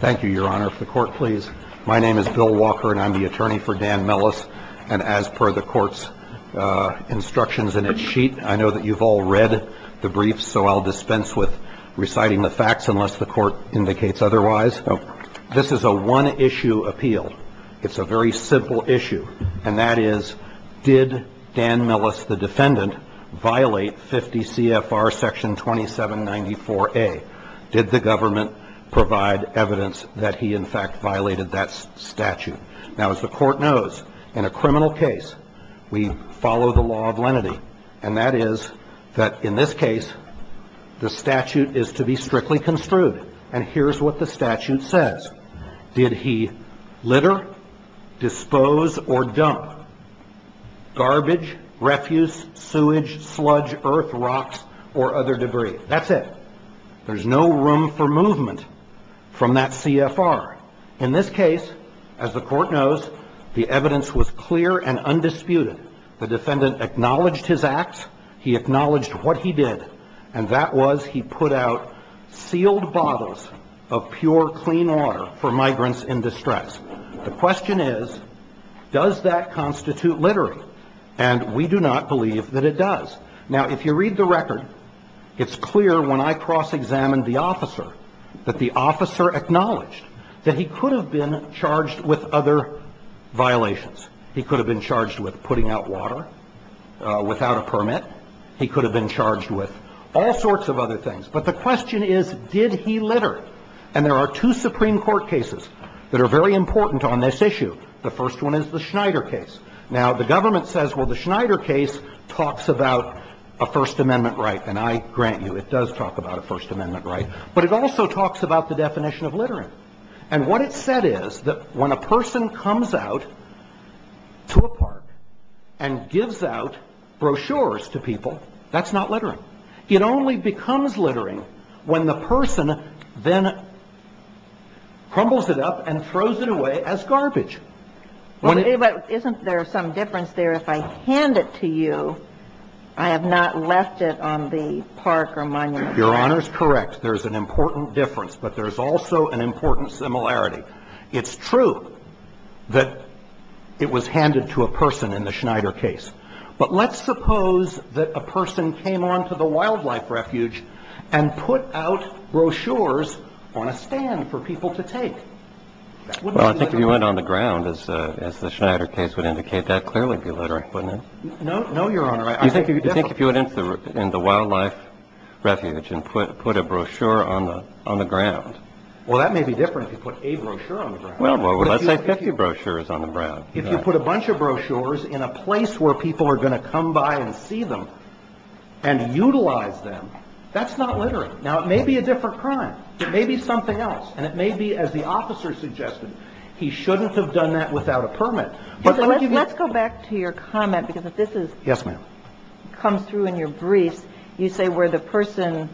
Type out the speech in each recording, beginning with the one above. Thank you, your honor. If the court please. My name is Bill Walker and I'm the attorney for Dan Millis. And as per the court's instructions in its sheet, I know that you've all read the briefs, so I'll dispense with reciting the facts unless the court indicates otherwise. This is a one issue appeal. It's a very simple issue. And that is, did Dan Millis, the defendant, violate 50 CFR section 2794A? Did the government provide evidence that he in fact violated that statute? Now, as the court knows, in a criminal case, we follow the law of lenity. And that is that in this case, the statute is to be strictly construed. And here's what the statute says. Did he litter, dispose, or dump garbage, refuse, sewage, sludge, earth, rocks, or other debris? That's it. There's no room for movement from that CFR. In this case, as the court knows, the evidence was clear and undisputed. The defendant acknowledged his acts. He acknowledged what he did. And that was he put out sealed bottles of pure, clean water for migrants in distress. The question is, does that constitute littering? And we do not believe that it does. Now, if you read the record, it's clear when I cross-examined the officer that the officer acknowledged that he could have been charged with other violations. He could have been charged with putting out water without a permit. He could have been charged with all sorts of other things. But the question is, did he litter? And there are two Supreme Court cases that are very important on this issue. The first one is the Schneider case. Now, the government says, well, the Schneider case talks about a First Amendment right. And I grant you, it does talk about a First Amendment right. But it also talks about the definition of littering. And what it said is that when a person comes out to a park and gives out brochures to people, that's not littering. It only becomes littering when the person then crumbles it up and throws it away as garbage. But isn't there some difference there if I hand it to you, I have not left it on the park or monument? Your Honor is correct. There's an important difference. But there's also an important similarity. It's true that it was handed to a person in the Schneider case. But let's suppose that a person came on to the wildlife refuge and put out brochures on a stand for people to take. Well, I think if you went on the ground, as the Schneider case would indicate, that clearly would be littering, wouldn't it? No, Your Honor. I think if you went into the wildlife refuge and put a brochure on the ground. Well, that may be different if you put a brochure on the ground. Well, let's say 50 brochures on the ground. If you put a bunch of brochures in a place where people are going to come by and see them and utilize them, that's not littering. Now, it may be a different crime. It may be something else. And it may be, as the officer suggested, he shouldn't have done that without a permit. Let's go back to your comment, because if this comes through in your briefs, you say where the person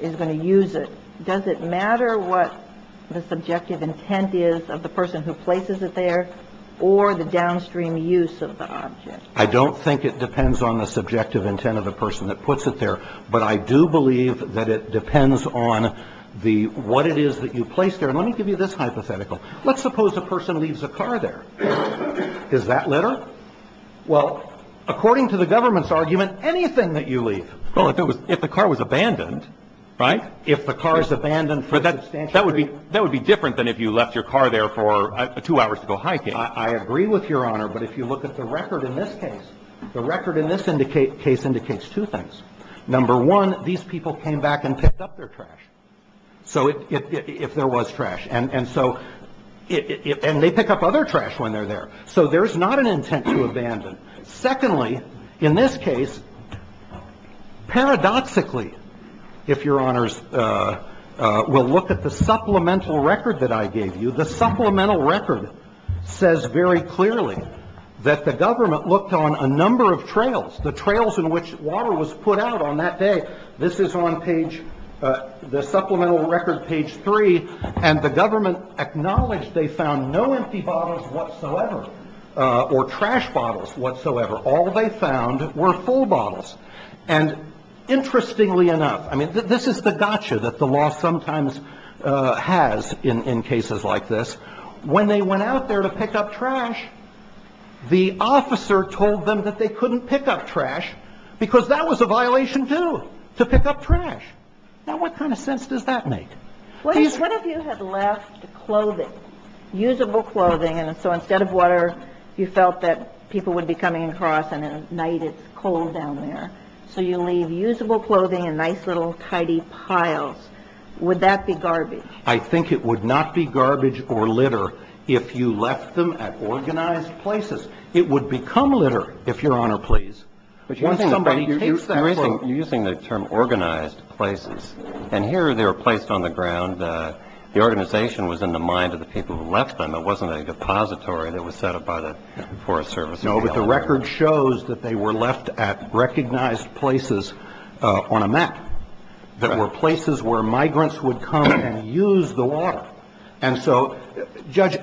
is going to use it. Does it matter what the subjective intent is of the person who places it there or the downstream use of the object? I don't think it depends on the subjective intent of the person that puts it there. But I do believe that it depends on what it is that you place there. And let me give you this hypothetical. Let's suppose a person leaves a car there. Is that litter? Well, according to the government's argument, anything that you leave. Well, if the car was abandoned, right? If the car is abandoned for substantial period. That would be different than if you left your car there for two hours to go hiking. I agree with Your Honor. But if you look at the record in this case, the record in this case indicates two things. Number one, these people came back and picked up their trash. So if there was trash. And so they pick up other trash when they're there. So there's not an intent to abandon. Secondly, in this case, paradoxically, if Your Honors will look at the supplemental record that I gave you, the supplemental record says very clearly that the government looked on a number of trails, the trails in which water was put out on that day. This is on page the supplemental record, page three. And the government acknowledged they found no empty bottles whatsoever or trash bottles whatsoever. All they found were full bottles. And interestingly enough, I mean, this is the gotcha that the law sometimes has in cases like this. When they went out there to pick up trash, the officer told them that they couldn't pick up trash because that was a violation too, to pick up trash. Now what kind of sense does that make? What if you had left clothing, usable clothing, and so instead of water you felt that people would be coming across and at night it's cold down there. So you leave usable clothing in nice little tidy piles. Would that be garbage? I think it would not be garbage or litter if you left them at organized places. It would become litter if Your Honor please. You're using the term organized places. And here they were placed on the ground. The organization was in the mind of the people who left them. It wasn't a depository that was set up by the Forest Service. No, but the record shows that they were left at recognized places on a map. That were places where migrants would come and use the water. And so Judge,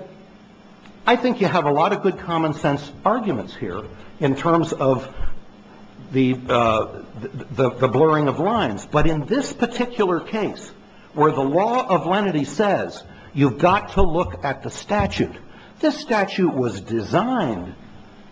I think you have a lot of good common sense arguments here in terms of the blurring of lines. But in this particular case where the law of lenity says you've got to look at the statute, this statute was designed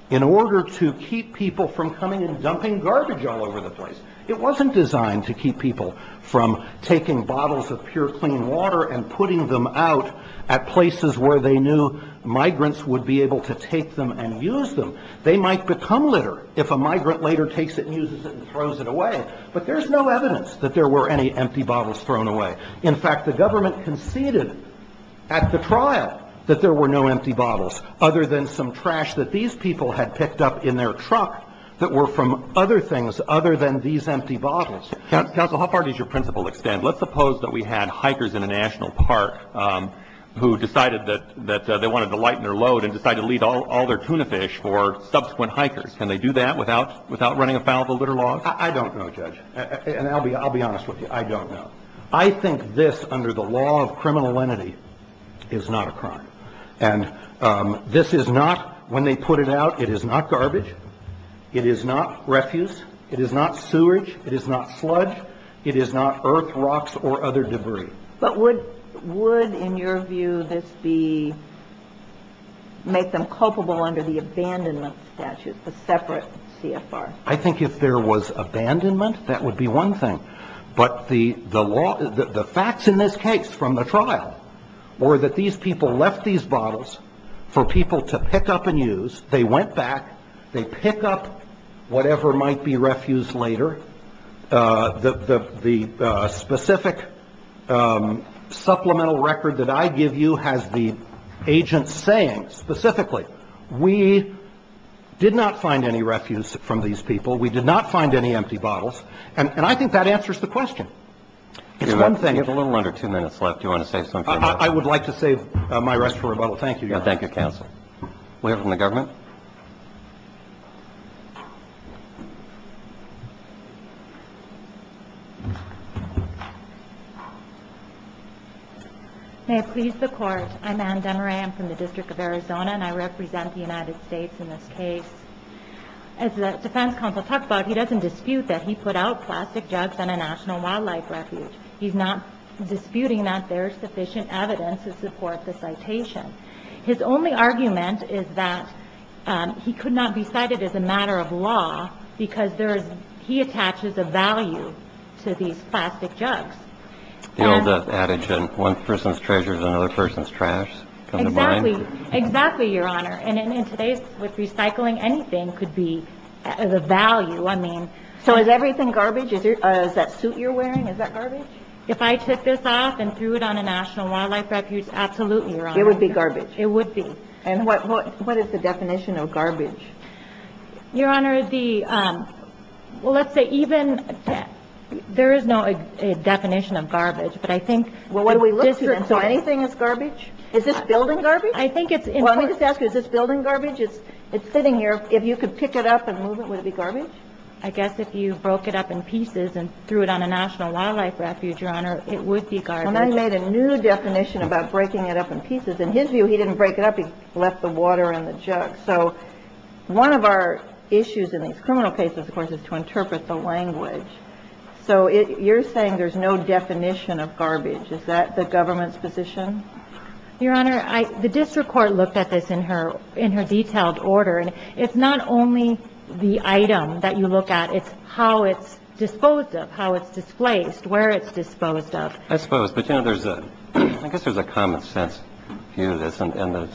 in order to keep people from coming and dumping garbage all over the place. It wasn't designed to keep people from taking bottles of pure clean water and putting them out at places where they knew migrants would be able to take them and use them. They might become litter if a migrant later takes it and uses it and throws it away. But there's no evidence that there were any empty bottles thrown away. In fact, the government conceded at the trial that there were no empty bottles other than some trash that these people had picked up in their truck that were from other things other than these empty bottles. Counsel, how far does your principle extend? Let's suppose that we had hikers in a national park who decided that they wanted to lighten their load and decided to leave all their tuna fish for subsequent hikers. Can they do that without running afoul of the litter laws? I don't know, Judge. And I'll be honest with you. I don't know. I think this, under the law of criminal lenity, is not a crime. And this is not, when they put it out, it is not garbage. It is not refuse. It is not sewage. It is not sludge. It is not earth, rocks, or other debris. But would, in your view, this make them culpable under the abandonment statute, the separate CFR? I think if there was abandonment, that would be one thing. But the facts in this case from the trial were that these people left these bottles for people to pick up and use. They went back. They pick up whatever might be refuse later. The specific supplemental record that I give you has the agent saying specifically, we did not find any refuse from these people. We did not find any empty bottles. And I think that answers the question. It's one thing. You have a little under two minutes left. Do you want to say something? I would like to save my rest for rebuttal. Thank you, Your Honor. Thank you, counsel. We'll hear from the government. May it please the Court. I'm Ann Demarais. I'm from the District of Arizona, and I represent the United States in this case. As the defense counsel talked about, he doesn't dispute that he put out plastic jugs in a National Wildlife Refuge. He's not disputing that there's sufficient evidence to support the citation. His only argument is that he could not be cited as a matter of law because there is he attaches a value to these plastic jugs. The old adage, one person's treasure is another person's trash. Exactly. Exactly, Your Honor. And in today's, with recycling, anything could be the value. I mean, so is everything garbage? Is that suit you're wearing, is that garbage? If I took this off and threw it on a National Wildlife Refuge, absolutely, Your Honor. It would be garbage. It would be. And what is the definition of garbage? Your Honor, the – well, let's say even – there is no definition of garbage. But I think – Well, what do we look for? So anything is garbage? Is this building garbage? I think it's – Well, let me just ask you, is this building garbage? It's sitting here. If you could pick it up and move it, would it be garbage? I guess if you broke it up in pieces and threw it on a National Wildlife Refuge, Your Honor, it would be garbage. And then he made a new definition about breaking it up in pieces. In his view, he didn't break it up. He left the water in the jug. So one of our issues in these criminal cases, of course, is to interpret the language. So you're saying there's no definition of garbage. Is that the government's position? Your Honor, I – the district court looked at this in her – in her detailed order. And it's not only the item that you look at. It's how it's disposed of, how it's displaced, where it's disposed of. I suppose. But, you know, there's a – I guess there's a common-sense view of this. And the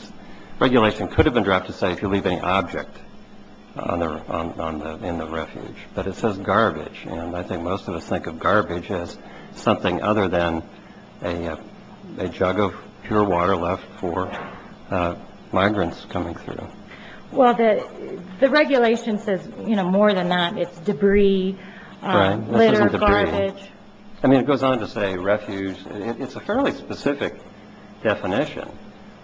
regulation could have been dropped to say if you leave any object on the – in the refuge. But it says garbage. And I think most of us think of garbage as something other than a jug of pure water left for migrants coming through. Well, the regulation says, you know, more than that, it's debris, litter, garbage. Right. This isn't debris. I mean, it goes on to say refuge. It's a fairly specific definition.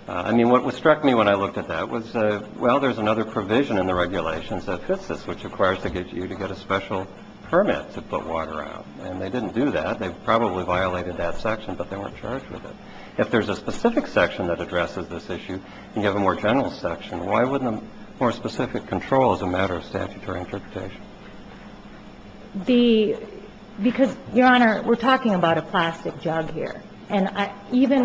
I mean, what struck me when I looked at that was, well, there's another provision in the regulations that fits this, which requires that you get a special permit to put water out. And they didn't do that. They probably violated that section, but they weren't charged with it. If there's a specific section that addresses this issue and you have a more general section, why wouldn't a more specific control as a matter of statutory interpretation? The – because, Your Honor, we're talking about a plastic jug here. And even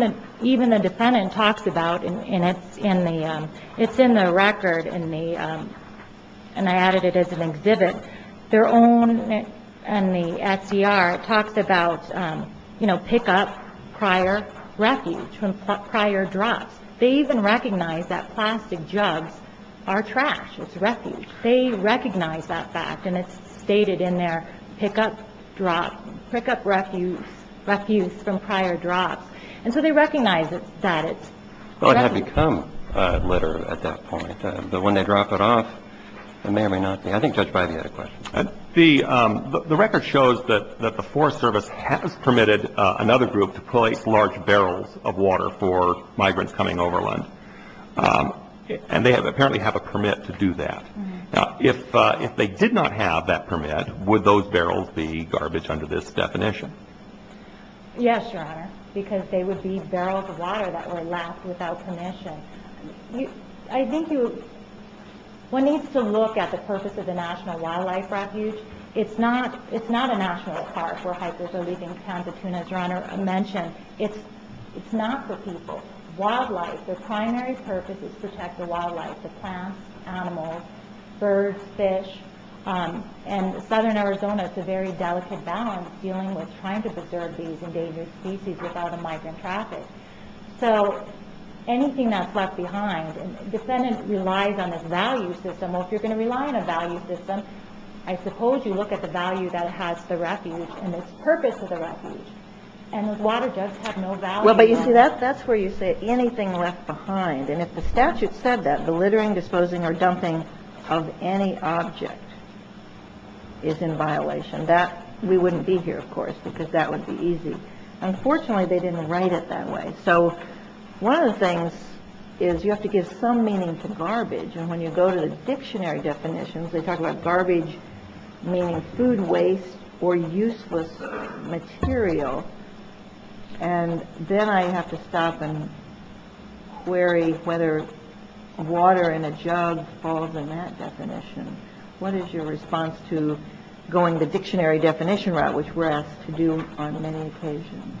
the defendant talks about – and it's in the – it's in the record in the – and I added it as an exhibit. Their own – in the SCR, it talks about, you know, pick up prior refuge from prior drops. They even recognize that plastic jugs are trash. It's refuge. They recognize that fact, and it's stated in there, pick up drop – pick up refuge from prior drops. And so they recognize that it's – they recognize it. Well, it had become litter at that point. But when they drop it off, it may or may not be. I think Judge Bivey had a question. The record shows that the Forest Service has permitted another group to place large barrels of water for migrants coming overland. And they have – apparently have a permit to do that. Now, if they did not have that permit, would those barrels be garbage under this definition? Yes, Your Honor, because they would be barrels of water that were left without permission. I think you – one needs to look at the purpose of the National Wildlife Refuge. It's not – it's not a national park where hikers are leaving town to tuna, as Your Honor mentioned. It's not for people. It's wildlife. Their primary purpose is to protect the wildlife – the plants, animals, birds, fish. And southern Arizona, it's a very delicate balance dealing with trying to preserve these endangered species with all the migrant traffic. So anything that's left behind – the defendant relies on a value system. Well, if you're going to rely on a value system, I suppose you look at the value that has the refuge and its purpose of the refuge. And those water jugs have no value. Well, but you see, that's where you say anything left behind. And if the statute said that, the littering, disposing or dumping of any object is in violation. That – we wouldn't be here, of course, because that would be easy. Unfortunately, they didn't write it that way. So one of the things is you have to give some meaning to garbage. And when you go to the dictionary definitions, they talk about garbage meaning food waste or useless material. And then I have to stop and query whether water in a jug falls in that definition. What is your response to going the dictionary definition route, which we're asked to do on many occasions?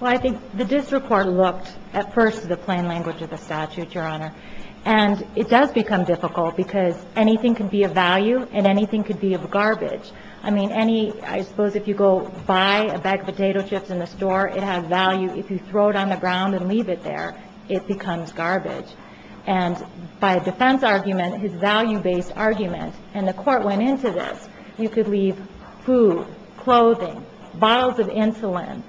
Well, I think the district court looked at first at the plain language of the statute, Your Honor. And it does become difficult because anything can be of value and anything can be of garbage. I mean, any – I suppose if you go buy a bag of potato chips in the store, it has value. If you throw it on the ground and leave it there, it becomes garbage. And by a defense argument, it's a value-based argument. And the court went into this. You could leave food, clothing, bottles of insulin,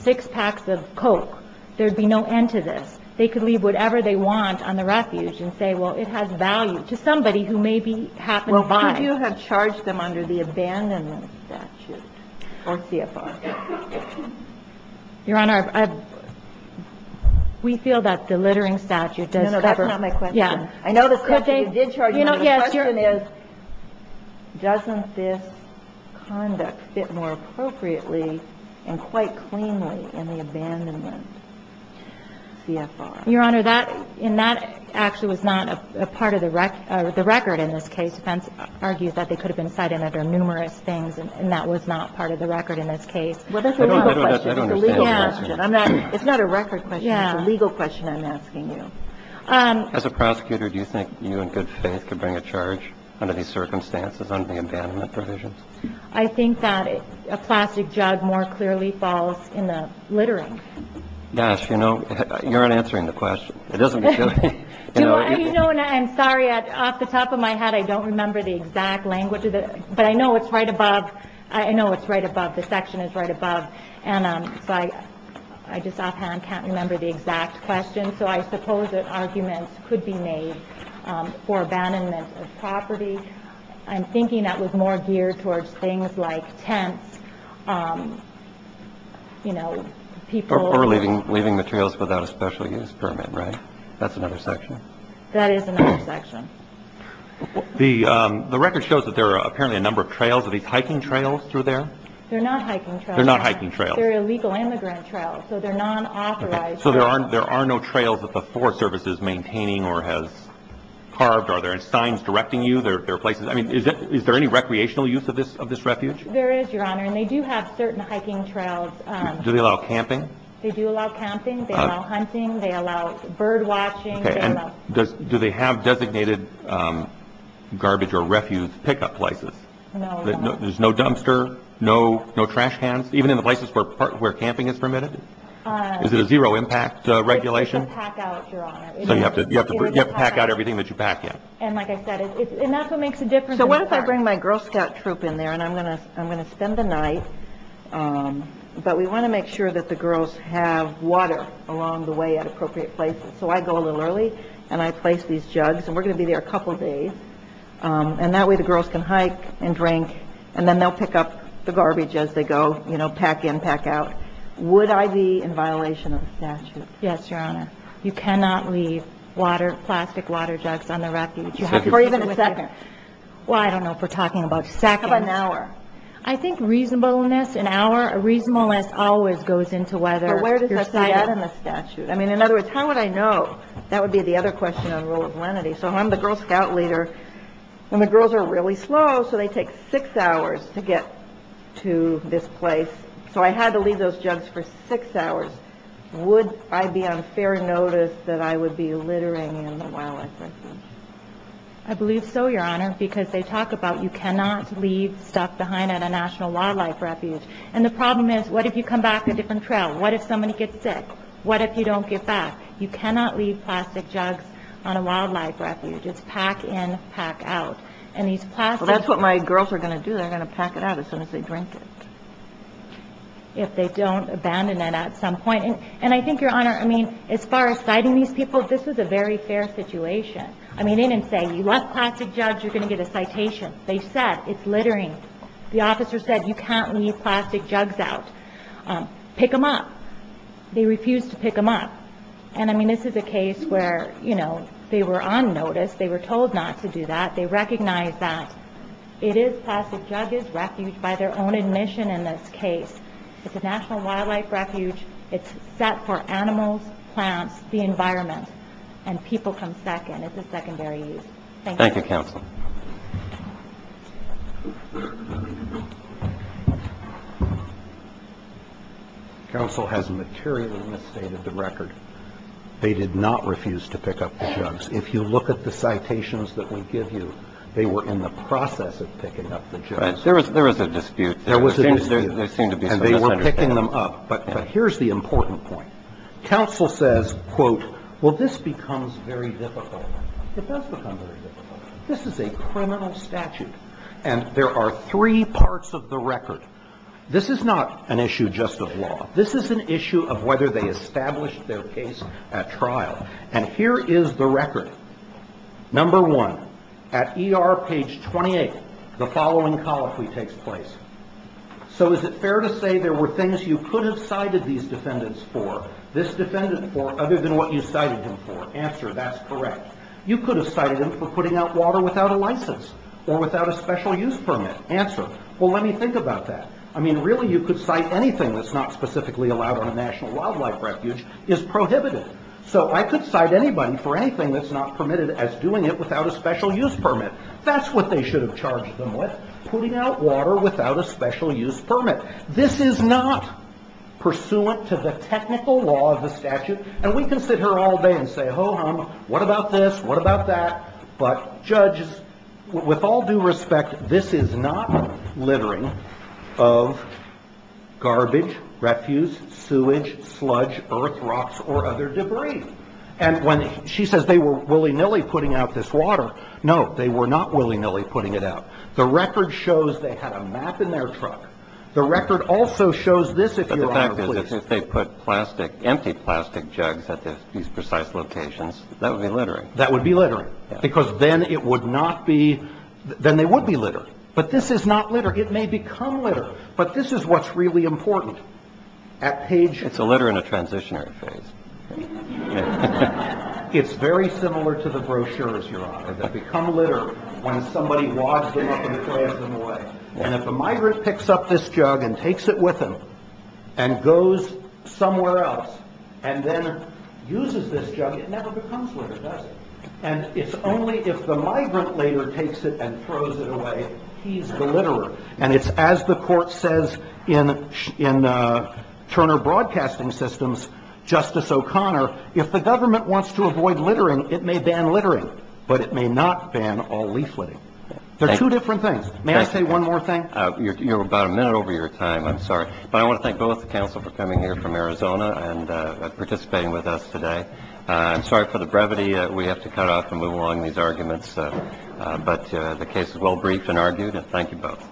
six packs of Coke. There would be no end to this. They could leave whatever they want on the refuge and say, well, it has value, to somebody who maybe happened to buy it. It's a good issue. If it's— If what you have charged them under the abandonment statute is legally Border 跟大家, I'm sorry, but what is the abandonment statute under which you have charged them? You have charged them under the abandonment statute for CFR. It's a legal question. It's not a record question. It's a legal question I'm asking you. As a prosecutor, do you think you in good faith could bring a charge under these circumstances under the abandonment provisions? I think that a plastic jug more clearly falls in the littering. Yes. You know, you're not answering the question. It doesn't make sense. You know, I'm sorry. Off the top of my head, I don't remember the exact question. But I know it's right above. I know it's right above. The section is right above. And so I just offhand can't remember the exact question. So I suppose that arguments could be made for abandonment of property. I'm thinking that was more geared towards things like tents, you know, people— Or leaving materials without a special use permit, right? That's another section. That is another section. The record shows that there are apparently a number of trails. Are these hiking trails through there? They're not hiking trails. They're not hiking trails. They're illegal immigrant trails. So they're non-authorized trails. So there are no trails that the Forest Service is maintaining or has carved? Are there signs directing you? I mean, is there any recreational use of this refuge? There is, Your Honor. And they do have certain hiking trails. Do they allow camping? They do allow camping. They allow hunting. They allow bird watching. Okay. And do they have designated garbage or refuge pickup places? No, Your Honor. There's no dumpster, no trash cans, even in the places where camping is permitted? Is it a zero impact regulation? You have to pack out, Your Honor. So you have to pack out everything that you pack in. And like I said, enough makes a difference. So what if I bring my Girl Scout troop in there, and I'm going to spend the night. But we want to make sure that the girls have water along the way at appropriate places. So I go a little early, and I place these jugs. And we're going to be there a couple of days. And that way, the girls can hike and drink. And then they'll pick up the garbage as they go, you know, pack in, pack out. Would I be in violation of the statute? Yes, Your Honor. You cannot leave water, plastic water jugs on the refuge. For even a second. Well, I don't know if we're talking about seconds. How about an hour? I think reasonableness, an hour, reasonableness always goes into whether you're cited. But where does that say that in the statute? I mean, in other words, how would I know? That would be the other question on the role of lenity. So I'm the Girl Scout leader, and the girls are really slow, so they take six hours to get to this place. So I had to leave those jugs for six hours. Would I be on fair notice that I would be littering in the wildlife refuge? I believe so, Your Honor, because they talk about you cannot leave stuff behind at a national wildlife refuge. And the problem is, what if you come back a different trail? What if somebody gets sick? What if you don't get back? You cannot leave plastic jugs on a wildlife refuge. It's pack in, pack out. And these plastic jugs. Well, that's what my girls are going to do. They're going to pack it out as soon as they drink it. If they don't abandon it at some point. And I think, Your Honor, I mean, as far as citing these people, this is a very fair situation. I mean, they didn't say you left plastic jugs, you're going to get a citation. They said it's littering. The officer said you can't leave plastic jugs out. Pick them up. They refused to pick them up. And, I mean, this is a case where, you know, they were on notice. They were told not to do that. They recognized that it is plastic jug is refuge by their own admission in this case. It's a national wildlife refuge. It's set for animals, plants, the environment. And people come second. It's a secondary use. Thank you. Thank you, counsel. Counsel has materially misstated the record. They did not refuse to pick up the jugs. If you look at the citations that we give you, they were in the process of picking up the jugs. There was a dispute. There was a dispute. And they were picking them up. But here's the important point. Counsel says, quote, well, this becomes very difficult. It does become very difficult. This is a criminal statute. And there are three parts of the record. This is not an issue just of law. This is an issue of whether they established their case at trial. And here is the record. Number one, at ER page 28, the following colloquy takes place. So is it fair to say there were things you could have cited these defendants for, this defendant for, other than what you cited him for? Answer, that's correct. You could have cited him for putting out water without a license or without a special use permit. Answer, well, let me think about that. I mean, really, you could cite anything that's not specifically allowed on a National Wildlife Refuge is prohibited. So I could cite anybody for anything that's not permitted as doing it without a special use permit. That's what they should have charged them with, putting out water without a special use permit. This is not pursuant to the technical law of the statute. And we can sit here all day and say, ho-hum, what about this? What about that? But, judges, with all due respect, this is not littering of garbage, refuse, sewage, sludge, earth, rocks, or other debris. And when she says they were willy-nilly putting out this water, no, they were not willy-nilly putting it out. The record shows they had a map in their truck. The record also shows this, if Your Honor, please. If they put plastic, empty plastic jugs at these precise locations, that would be littering. That would be littering. Because then it would not be, then they would be littered. But this is not litter. It may become litter. But this is what's really important. At Page. It's a litter in a transitionary phase. It's very similar to the brochures, Your Honor, that become litter when somebody wads them up and throws them away. And if a migrant picks up this jug and takes it with him and goes somewhere else and then uses this jug, it never becomes litter, does it? And it's only if the migrant later takes it and throws it away, he's the litterer. And it's as the court says in Turner Broadcasting Systems, Justice O'Connor, if the government wants to avoid littering, it may ban littering. But it may not ban all leafletting. They're two different things. May I say one more thing? You're about a minute over your time. I'm sorry. But I want to thank both the counsel for coming here from Arizona and participating with us today. I'm sorry for the brevity. We have to cut off and move along these arguments. But the case is well briefed and argued. And thank you both.